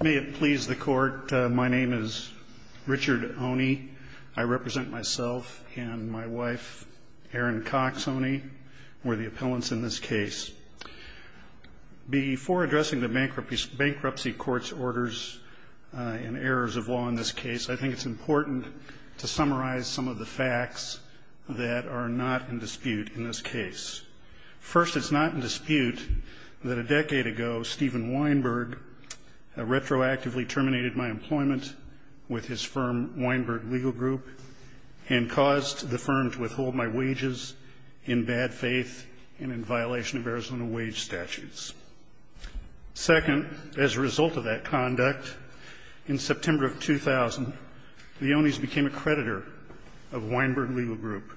May it please the court. My name is Richard Oney. I represent myself and my wife, Erin Cox Oney. We're the appellants in this case. Before addressing the bankruptcy court's orders and errors of law in this case, I think it's important to summarize some of the facts that are not in dispute in this case. First, it's not in dispute that a decade ago, Steven Weinberg retroactively terminated my employment with his firm, Weinberg Legal Group, and caused the firm to withhold my wages in bad faith and in violation of Arizona wage statutes. Second, as a result of that conduct, in September of 2000, the Oneys became a creditor of Weinberg Legal Group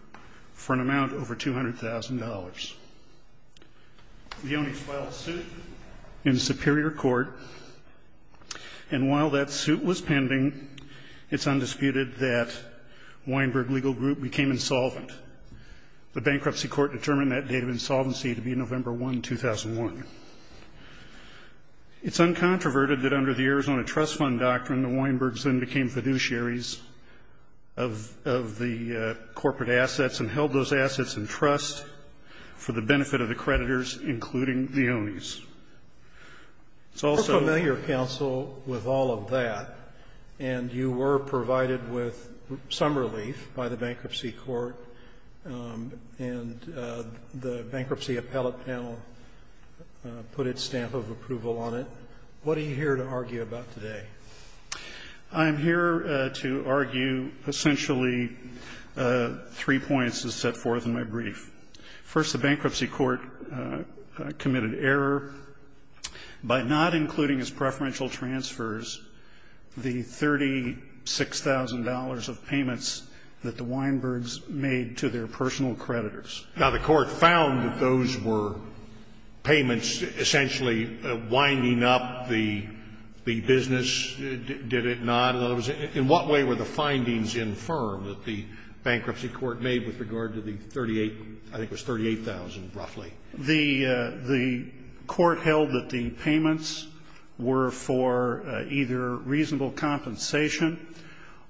for an amount over $200,000. The Oneys filed a suit in Superior Court, and while that suit was pending, it's undisputed that Weinberg Legal Group became insolvent. The bankruptcy court determined that date of insolvency to be November 1, 2001. It's uncontroverted that under the Arizona Trust Fund doctrine, the Weinbergs then became fiduciaries of the corporate assets and held those assets in trust for the benefit of the creditors, including the Oneys. It's also the other. You're familiar, counsel, with all of that, and you were provided with some relief by the bankruptcy court, and the bankruptcy appellate panel put its stamp of approval on it. What are you here to argue about today? I'm here to argue essentially three points as set forth in my brief. First, the bankruptcy court committed error by not including as preferential transfers the $36,000 of payments that the Weinbergs made to their personal creditors. Now, the court found that those were payments essentially winding up the business, did it not? In other words, in what way were the findings infirmed that the bankruptcy court made with regard to the 38,000, I think it was 38,000, roughly? The court held that the payments were for either reasonable compensation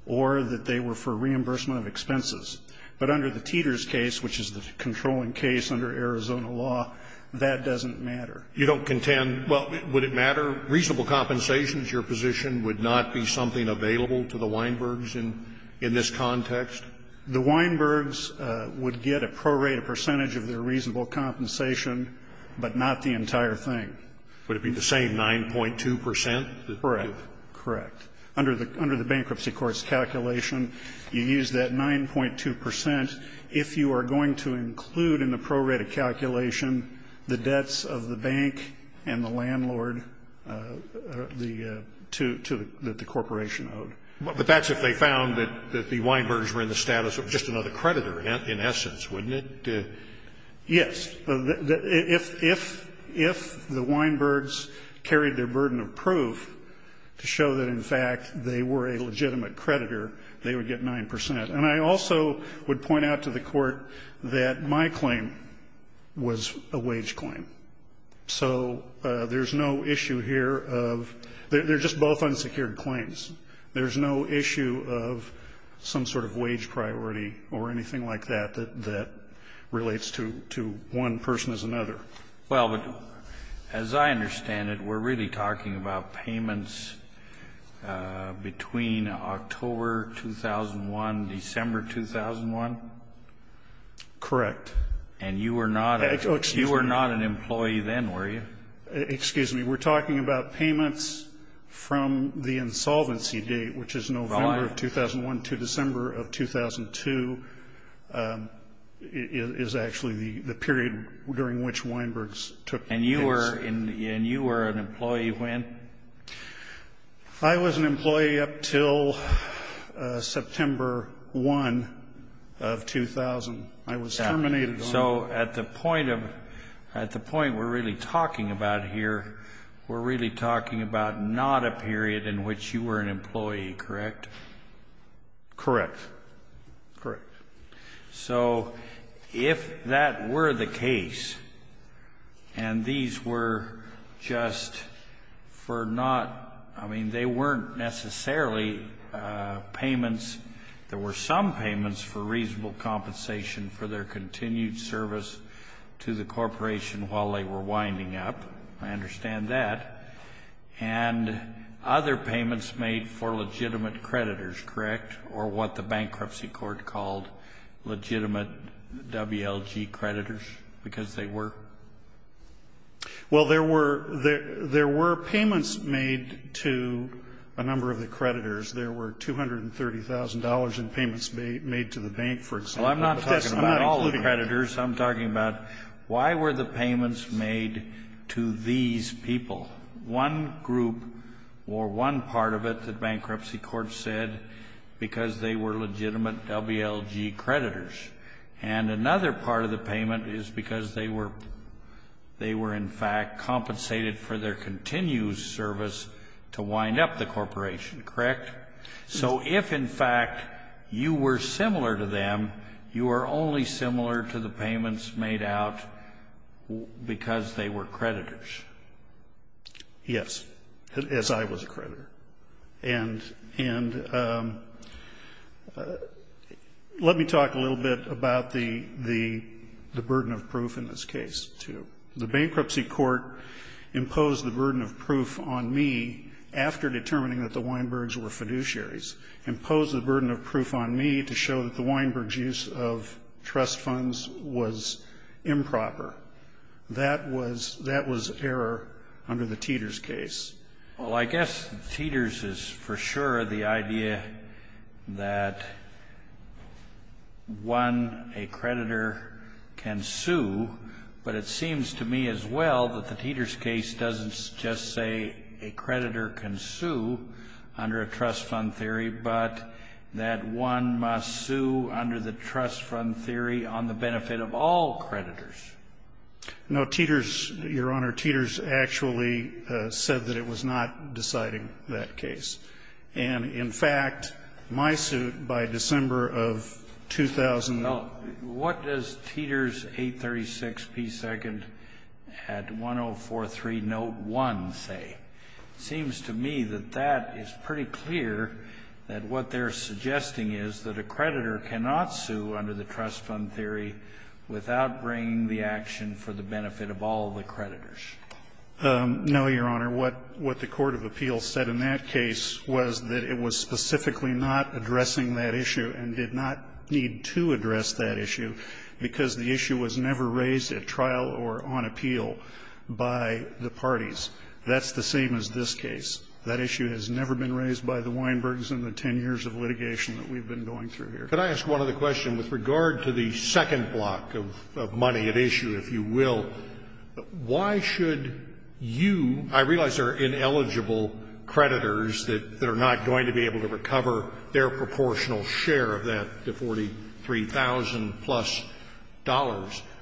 or that they were for reimbursement of expenses. But under the Teeter's case, which is the controlling case under Arizona law, that doesn't matter. You don't contend, well, would it matter? Reasonable compensation is your position, would not be something available to the Weinbergs in this context? The Weinbergs would get a pro-rate, a percentage of their reasonable compensation, but not the entire thing. Would it be the same 9.2 percent? Correct, correct. Under the bankruptcy court's calculation, you use that 9.2 percent if you are going to include in the pro-rate of calculation the debts of the bank and the landlord that the corporation owed. But that's if they found that the Weinbergs were in the status of just another creditor, in essence, wouldn't it? Yes. If the Weinbergs carried their burden of proof to show that, in fact, they were a legitimate creditor, they would get 9 percent. And I also would point out to the Court that my claim was a wage claim. So there's no issue here of they're just both unsecured claims. There's no issue of some sort of wage priority or anything like that that relates to one person as another. Well, but as I understand it, we're really talking about payments between October 2001, December 2001? Correct. And you were not a employee then, were you? Excuse me. We're talking about payments from the insolvency date, which is November of 2001 to December of 2002, is actually the period during which Weinbergs took the case. And you were an employee when? I was an employee up till September 1 of 2000. I was terminated on that. So at the point we're really talking about here, we're really talking about not a period in which you were an employee, correct? Correct. Correct. So if that were the case, and these were just for not, I mean, they weren't necessarily payments. There were some payments for reasonable compensation for their continued service to the corporation while they were winding up. I understand that. And other payments made for legitimate creditors, correct, or what the bankruptcy court called legitimate WLG creditors, because they were? Well, there were payments made to a number of the creditors. There were $230,000 in payments made to the bank, for example. Well, I'm not talking about all the creditors. I'm talking about why were the payments made to these people, one group or one part of it that bankruptcy court said because they were legitimate WLG creditors. And another part of the payment is because they were in fact compensated for their continued service to wind up the corporation, correct? So if in fact you were similar to them, you were only similar to the payments made out because they were creditors. Yes, as I was a creditor. And let me talk a little bit about the burden of proof in this case, too. The bankruptcy court imposed the burden of proof on me after determining that the beneficiaries imposed the burden of proof on me to show that the Weinberg use of trust funds was improper. That was that was error under the Teeters case. Well, I guess Teeters is for sure the idea that one, a creditor can sue. But it seems to me as well that the Teeters case doesn't just say a creditor can sue under a trust fund theory, but that one must sue under the trust fund theory on the benefit of all creditors. No, Teeters, Your Honor, Teeters actually said that it was not deciding that case. And in fact, my suit by December of 2000. Now, what does Teeters 836p2 at 1043 note 1 say? It seems to me that that is pretty clear, that what they're suggesting is that a creditor cannot sue under the trust fund theory without bringing the action for the benefit of all the creditors. No, Your Honor. What the court of appeals said in that case was that it was specifically not addressing that issue and did not need to address that issue because the issue was never raised at trial or on appeal by the parties. That's the same as this case. That issue has never been raised by the Weinbergs in the 10 years of litigation that we've been going through here. Could I ask one other question with regard to the second block of money at issue, if you will? Why should you, I realize there are ineligible creditors that are not going to be able to recover their proportional share of that, the $43,000-plus,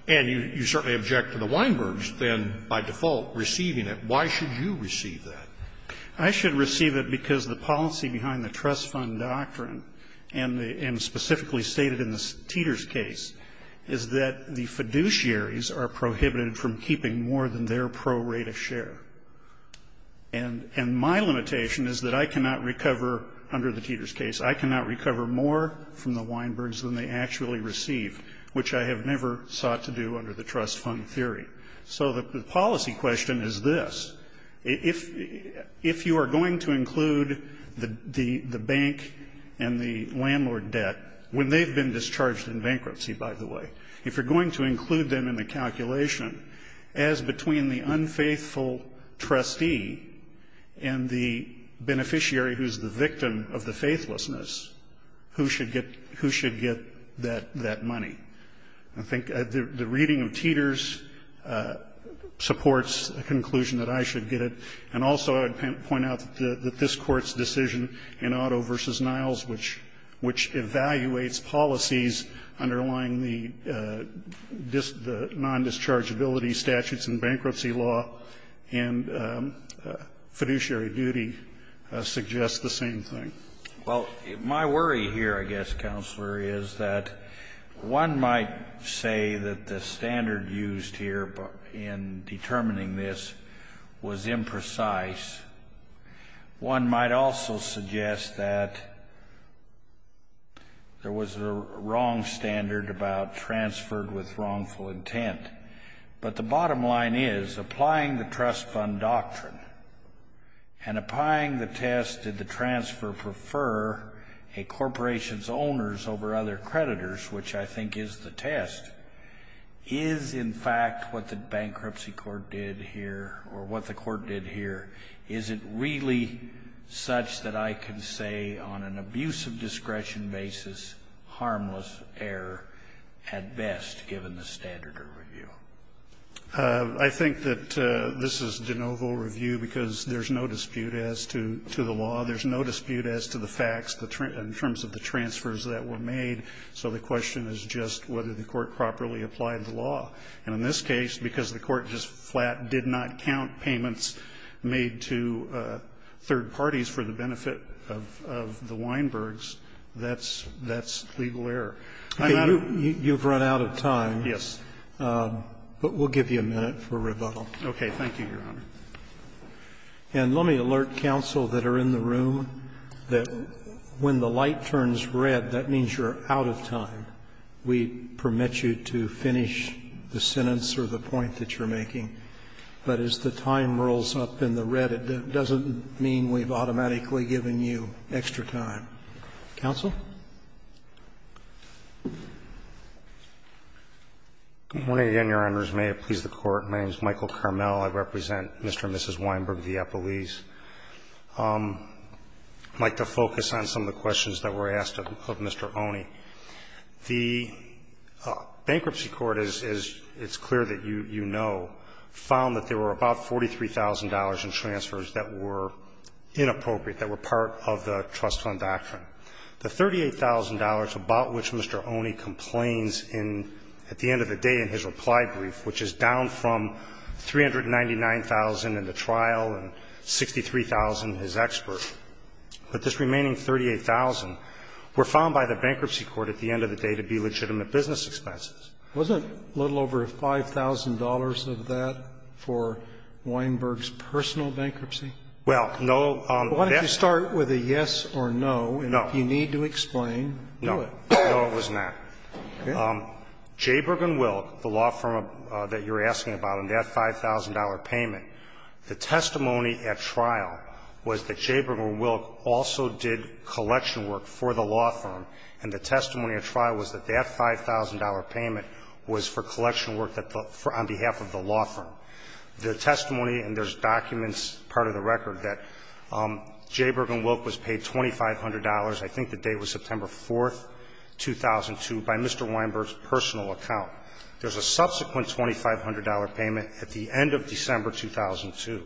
and you certainly object to the Weinbergs, then, by default, receiving it. Why should you receive that? I should receive it because the policy behind the trust fund doctrine and the – and specifically stated in the Teeters case is that the fiduciaries are prohibited from keeping more than their pro rata share. And my limitation is that I cannot recover under the Teeters case, I cannot recover more from the Weinbergs than they actually received, which I have never sought to do under the trust fund theory. So the policy question is this. If you are going to include the bank and the landlord debt, when they've been discharged in bankruptcy, by the way, if you're going to include them in the calculation as between the unfaithful trustee and the beneficiary who's the victim of the faithlessness, who should get that money? I think the reading of Teeters supports a conclusion that I should get it. And also I would point out that this Court's decision in Otto v. Niles, which evaluates policies underlying the non-dischargeability statutes in bankruptcy law and fiduciary duty, suggests the same thing. Well, my worry here, I guess, Counselor, is that one might say that the standard used here in determining this was imprecise. One might also suggest that there was a wrong standard about transferred with wrongful intent. But the bottom line is, applying the trust fund doctrine and applying the test did transfer prefer a corporation's owners over other creditors, which I think is the test, is, in fact, what the bankruptcy court did here or what the court did here. Is it really such that I can say on an abuse of discretion basis, harmless error at best, given the standard of review? I think that this is de novo review because there's no dispute as to the law. There's no dispute as to the facts in terms of the transfers that were made. So the question is just whether the court properly applied the law. And in this case, because the court just flat did not count payments made to third parties for the benefit of the Weinbergs, that's legal error. I'm not a question. Roberts, you've run out of time. Yes. But we'll give you a minute for rebuttal. Okay. Thank you, Your Honor. And let me alert counsel that are in the room that when the light turns red, that means you're out of time. We permit you to finish the sentence or the point that you're making. But as the time rolls up in the red, it doesn't mean we've automatically given you extra time. Counsel? Good morning again, Your Honors. May it please the Court. My name is Michael Carmel. I represent Mr. and Mrs. Weinberg of the Eppolese. I'd like to focus on some of the questions that were asked of Mr. Oney. The bankruptcy court, as it's clear that you know, found that there were about $43,000 in transfers that were inappropriate, that were part of the trust fund doctrine. The $38,000 about which Mr. Oney complains in at the end of the day in his reply brief, which is down from $399,000 in the trial and $63,000 in his expert. But this remaining $38,000 were found by the bankruptcy court at the end of the day to be legitimate business expenses. Wasn't a little over $5,000 of that for Weinberg's personal bankruptcy? Well, no. Why don't you start with a yes or no, and if you need to explain, do it. No. No, it was not. Jabergen-Wilk, the law firm that you're asking about, and that $5,000 payment, the testimony at trial was that Jabergen-Wilk also did collection work for the law firm, and the testimony at trial was that that $5,000 payment was for collection work that the law firm – on behalf of the law firm. The testimony, and there's documents, part of the record, that Jabergen-Wilk was paid $2,500, I think the date was September 4th, 2002, by Mr. Weinberg's personal account. There's a subsequent $2,500 payment at the end of December 2002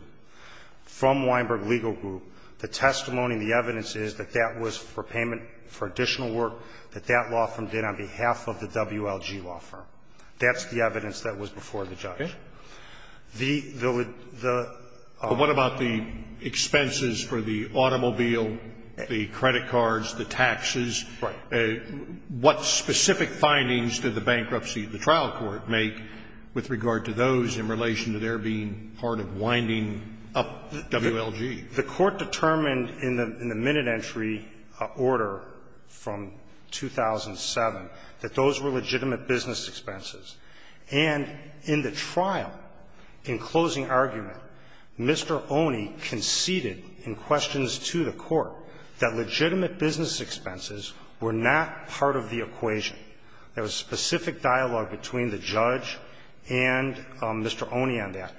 from Weinberg Legal Group. The testimony and the evidence is that that was for payment for additional work that that law firm did on behalf of the WLG law firm. That's the evidence that was before the judge. The – the – the – Sotomayor, I don't know if you want to comment on this, but I think it's important to note that the trial court did not make any specific findings about the expenses for the automobile, the credit cards, the taxes. Right. What specific findings did the bankruptcy of the trial court make with regard to those in relation to their being part of winding up WLG? The Court determined in the – in the minute entry order from 2007 that those were legitimate business expenses. And in the trial, in closing argument, Mr. Oney conceded in questions to the Court that legitimate business expenses were not part of the equation. There was specific dialogue between the judge and Mr. Oney on that.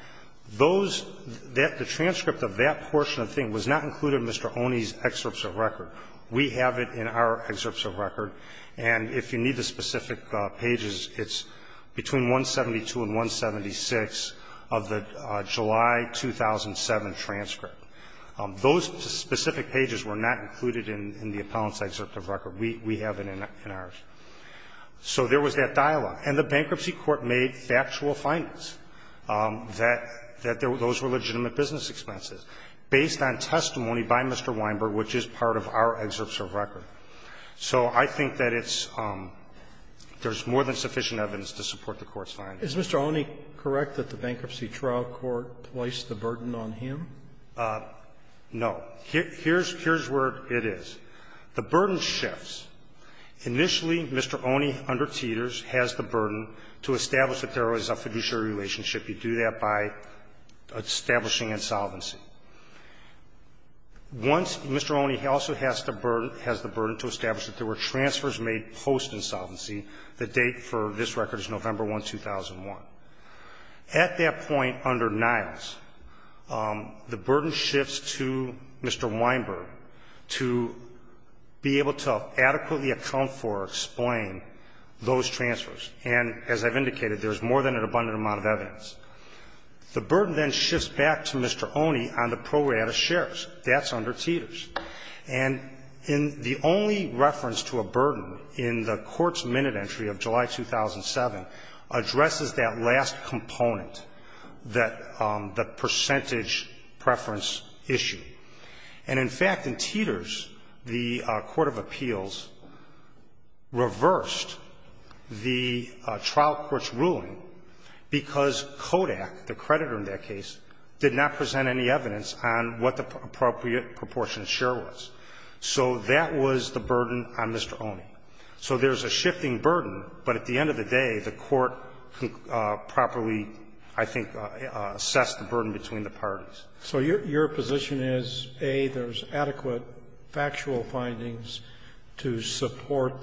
Those – that – the transcript of that portion of the thing was not included in Mr. Oney's excerpts of record. We have it in our excerpts of record. And if you need the specific pages, it's between 172 and 176 of the July 2007 transcript. Those specific pages were not included in the appellant's excerpt of record. We have it in ours. So there was that dialogue. And the bankruptcy court made factual findings that – that those were legitimate business expenses, based on testimony by Mr. Weinberg, which is part of our excerpts of record. So I think that it's – there's more than sufficient evidence to support the Court's findings. Is Mr. Oney correct that the bankruptcy trial court placed the burden on him? No. Here's – here's where it is. The burden shifts. Initially, Mr. Oney, under Teeters, has the burden to establish that there is a fiduciary relationship. You do that by establishing insolvency. Once Mr. Oney also has the burden – has the burden to establish that there were transfers made post-insolvency, the date for this record is November 1, 2001. At that point, under Niles, the burden shifts to Mr. Weinberg to be able to adequately account for or explain those transfers. And as I've indicated, there's more than an abundant amount of evidence. The burden then shifts back to Mr. Oney on the pro rata shares. That's under Teeters. And in the only reference to a burden in the Court's minute entry of July 2007 addresses that last component, that – the percentage preference issue. And in fact, in Teeters, the court of appeals reversed the trial court's ruling because Kodak, the creditor in that case, did not present any evidence on what the appropriate proportion share was. So that was the burden on Mr. Oney. So there's a shifting burden, but at the end of the day, the court properly, I think, assessed the burden between the parties. So your position is, A, there's adequate factual findings to support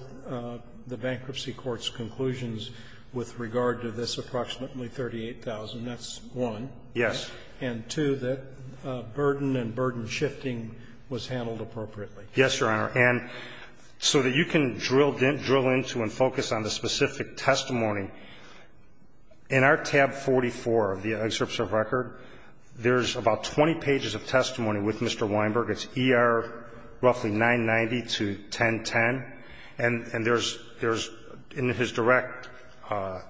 the bankruptcy court's conclusions with regard to this approximately $38,000. That's one. Yes. And two, that burden and burden shifting was handled appropriately. Yes, Your Honor. And so that you can drill into and focus on the specific testimony, in our tab 44 of the 20 pages of testimony with Mr. Weinberg, it's ER roughly 990 to 1010. And there's – in his direct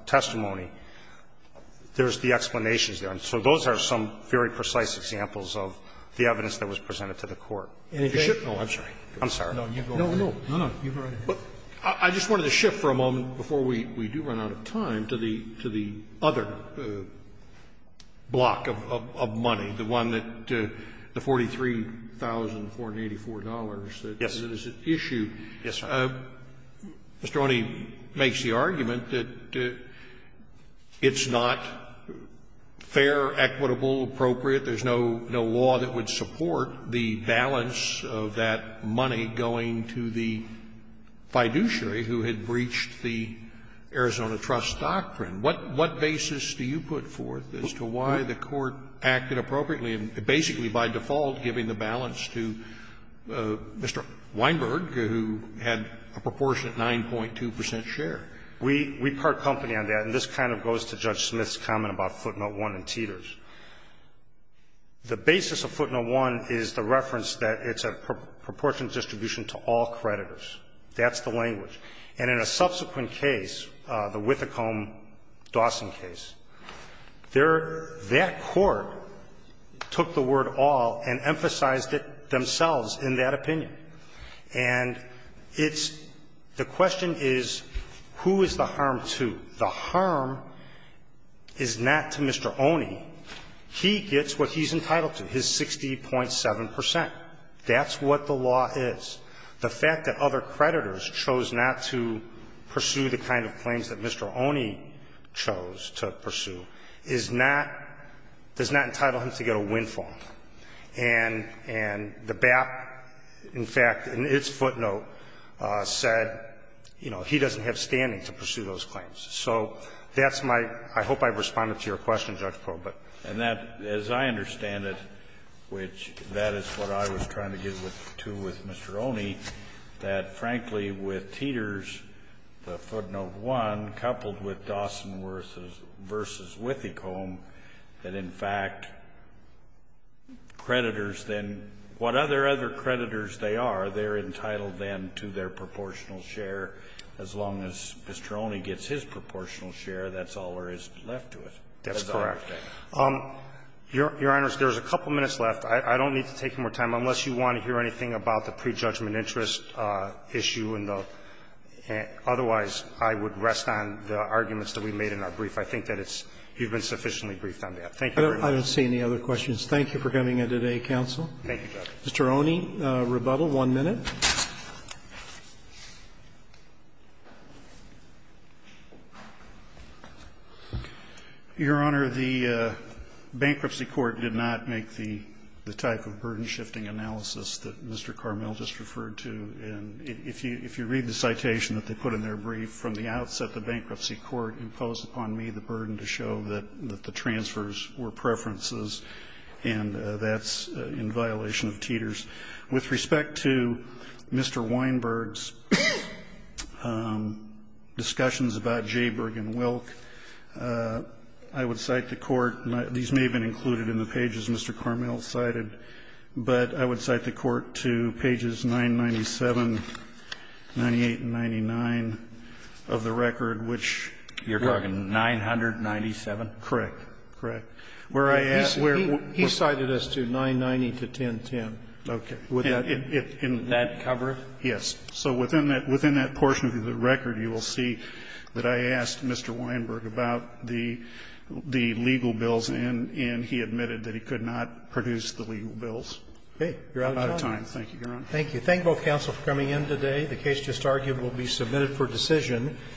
testimony, there's the explanations there. And so those are some very precise examples of the evidence that was presented to the Court. Any change? Oh, I'm sorry. I'm sorry. No, no. No, no. You go right ahead. I just wanted to shift for a moment, before we do run out of time, to the other block of money, the one that the $43,484 that is at issue. Yes, Your Honor. Mr. Oney makes the argument that it's not fair, equitable, appropriate. There's no law that would support the balance of that money going to the fiduciary who had breached the Arizona Trust doctrine. What basis do you put forth as to why the Court acted appropriately in basically by default giving the balance to Mr. Weinberg, who had a proportionate 9.2 percent share? We part company on that. And this kind of goes to Judge Smith's comment about footnote 1 and teeters. The basis of footnote 1 is the reference that it's a proportionate distribution to all creditors. That's the language. And in a subsequent case, the Whitacombe-Dawson case, that court took the word all and emphasized it themselves in that opinion. And it's the question is, who is the harm to? The harm is not to Mr. Oney. He gets what he's entitled to, his 60.7 percent. That's what the law is. The fact that other creditors chose not to pursue the kind of claims that Mr. Oney chose to pursue is not, does not entitle him to get a windfall. And the BAP, in fact, in its footnote, said, you know, he doesn't have standing to pursue those claims. So that's my, I hope I've responded to your question, Judge Probert. And that, as I understand it, which that is what I was trying to get to with Mr. Oney, that, frankly, with teeters, the footnote 1, coupled with Dawson versus Whitacombe, that, in fact, creditors then, what other other creditors they are, they're entitled then to their proportional share as long as Mr. Oney gets his proportional share. That's all there is left to it. That's correct. Your Honor, there's a couple minutes left. I don't need to take more time, unless you want to hear anything about the prejudgment interest issue in the otherwise I would rest on the arguments that we made in our brief. I think that it's, you've been sufficiently briefed on that. Thank you very much. Roberts. I don't see any other questions. Thank you for coming in today, counsel. Thank you, Judge. Mr. Oney, rebuttal, one minute. Your Honor, the bankruptcy court did not make the type of burden-shifting analysis that Mr. Carmel just referred to. And if you read the citation that they put in their brief, from the outset, the bankruptcy court imposed upon me the burden to show that the transfers were preferences, and that's in violation of teeters. With respect to Mr. Weinberg's discussions about Jayberg and Wilk, I would cite the court, these may have been included in the pages Mr. Carmel cited, but I would cite the court to pages 997, 98, and 99 of the record, which you're talking 997? Correct. Correct. He cited us to 990 to 1010. Okay. Would that cover it? Yes. So within that portion of the record, you will see that I asked Mr. Weinberg about the legal bills, and he admitted that he could not produce the legal bills. You're out of time. I'm out of time. Thank you, Your Honor. Thank you. Thank both counsel for coming in today. The case just argued will be submitted for decision.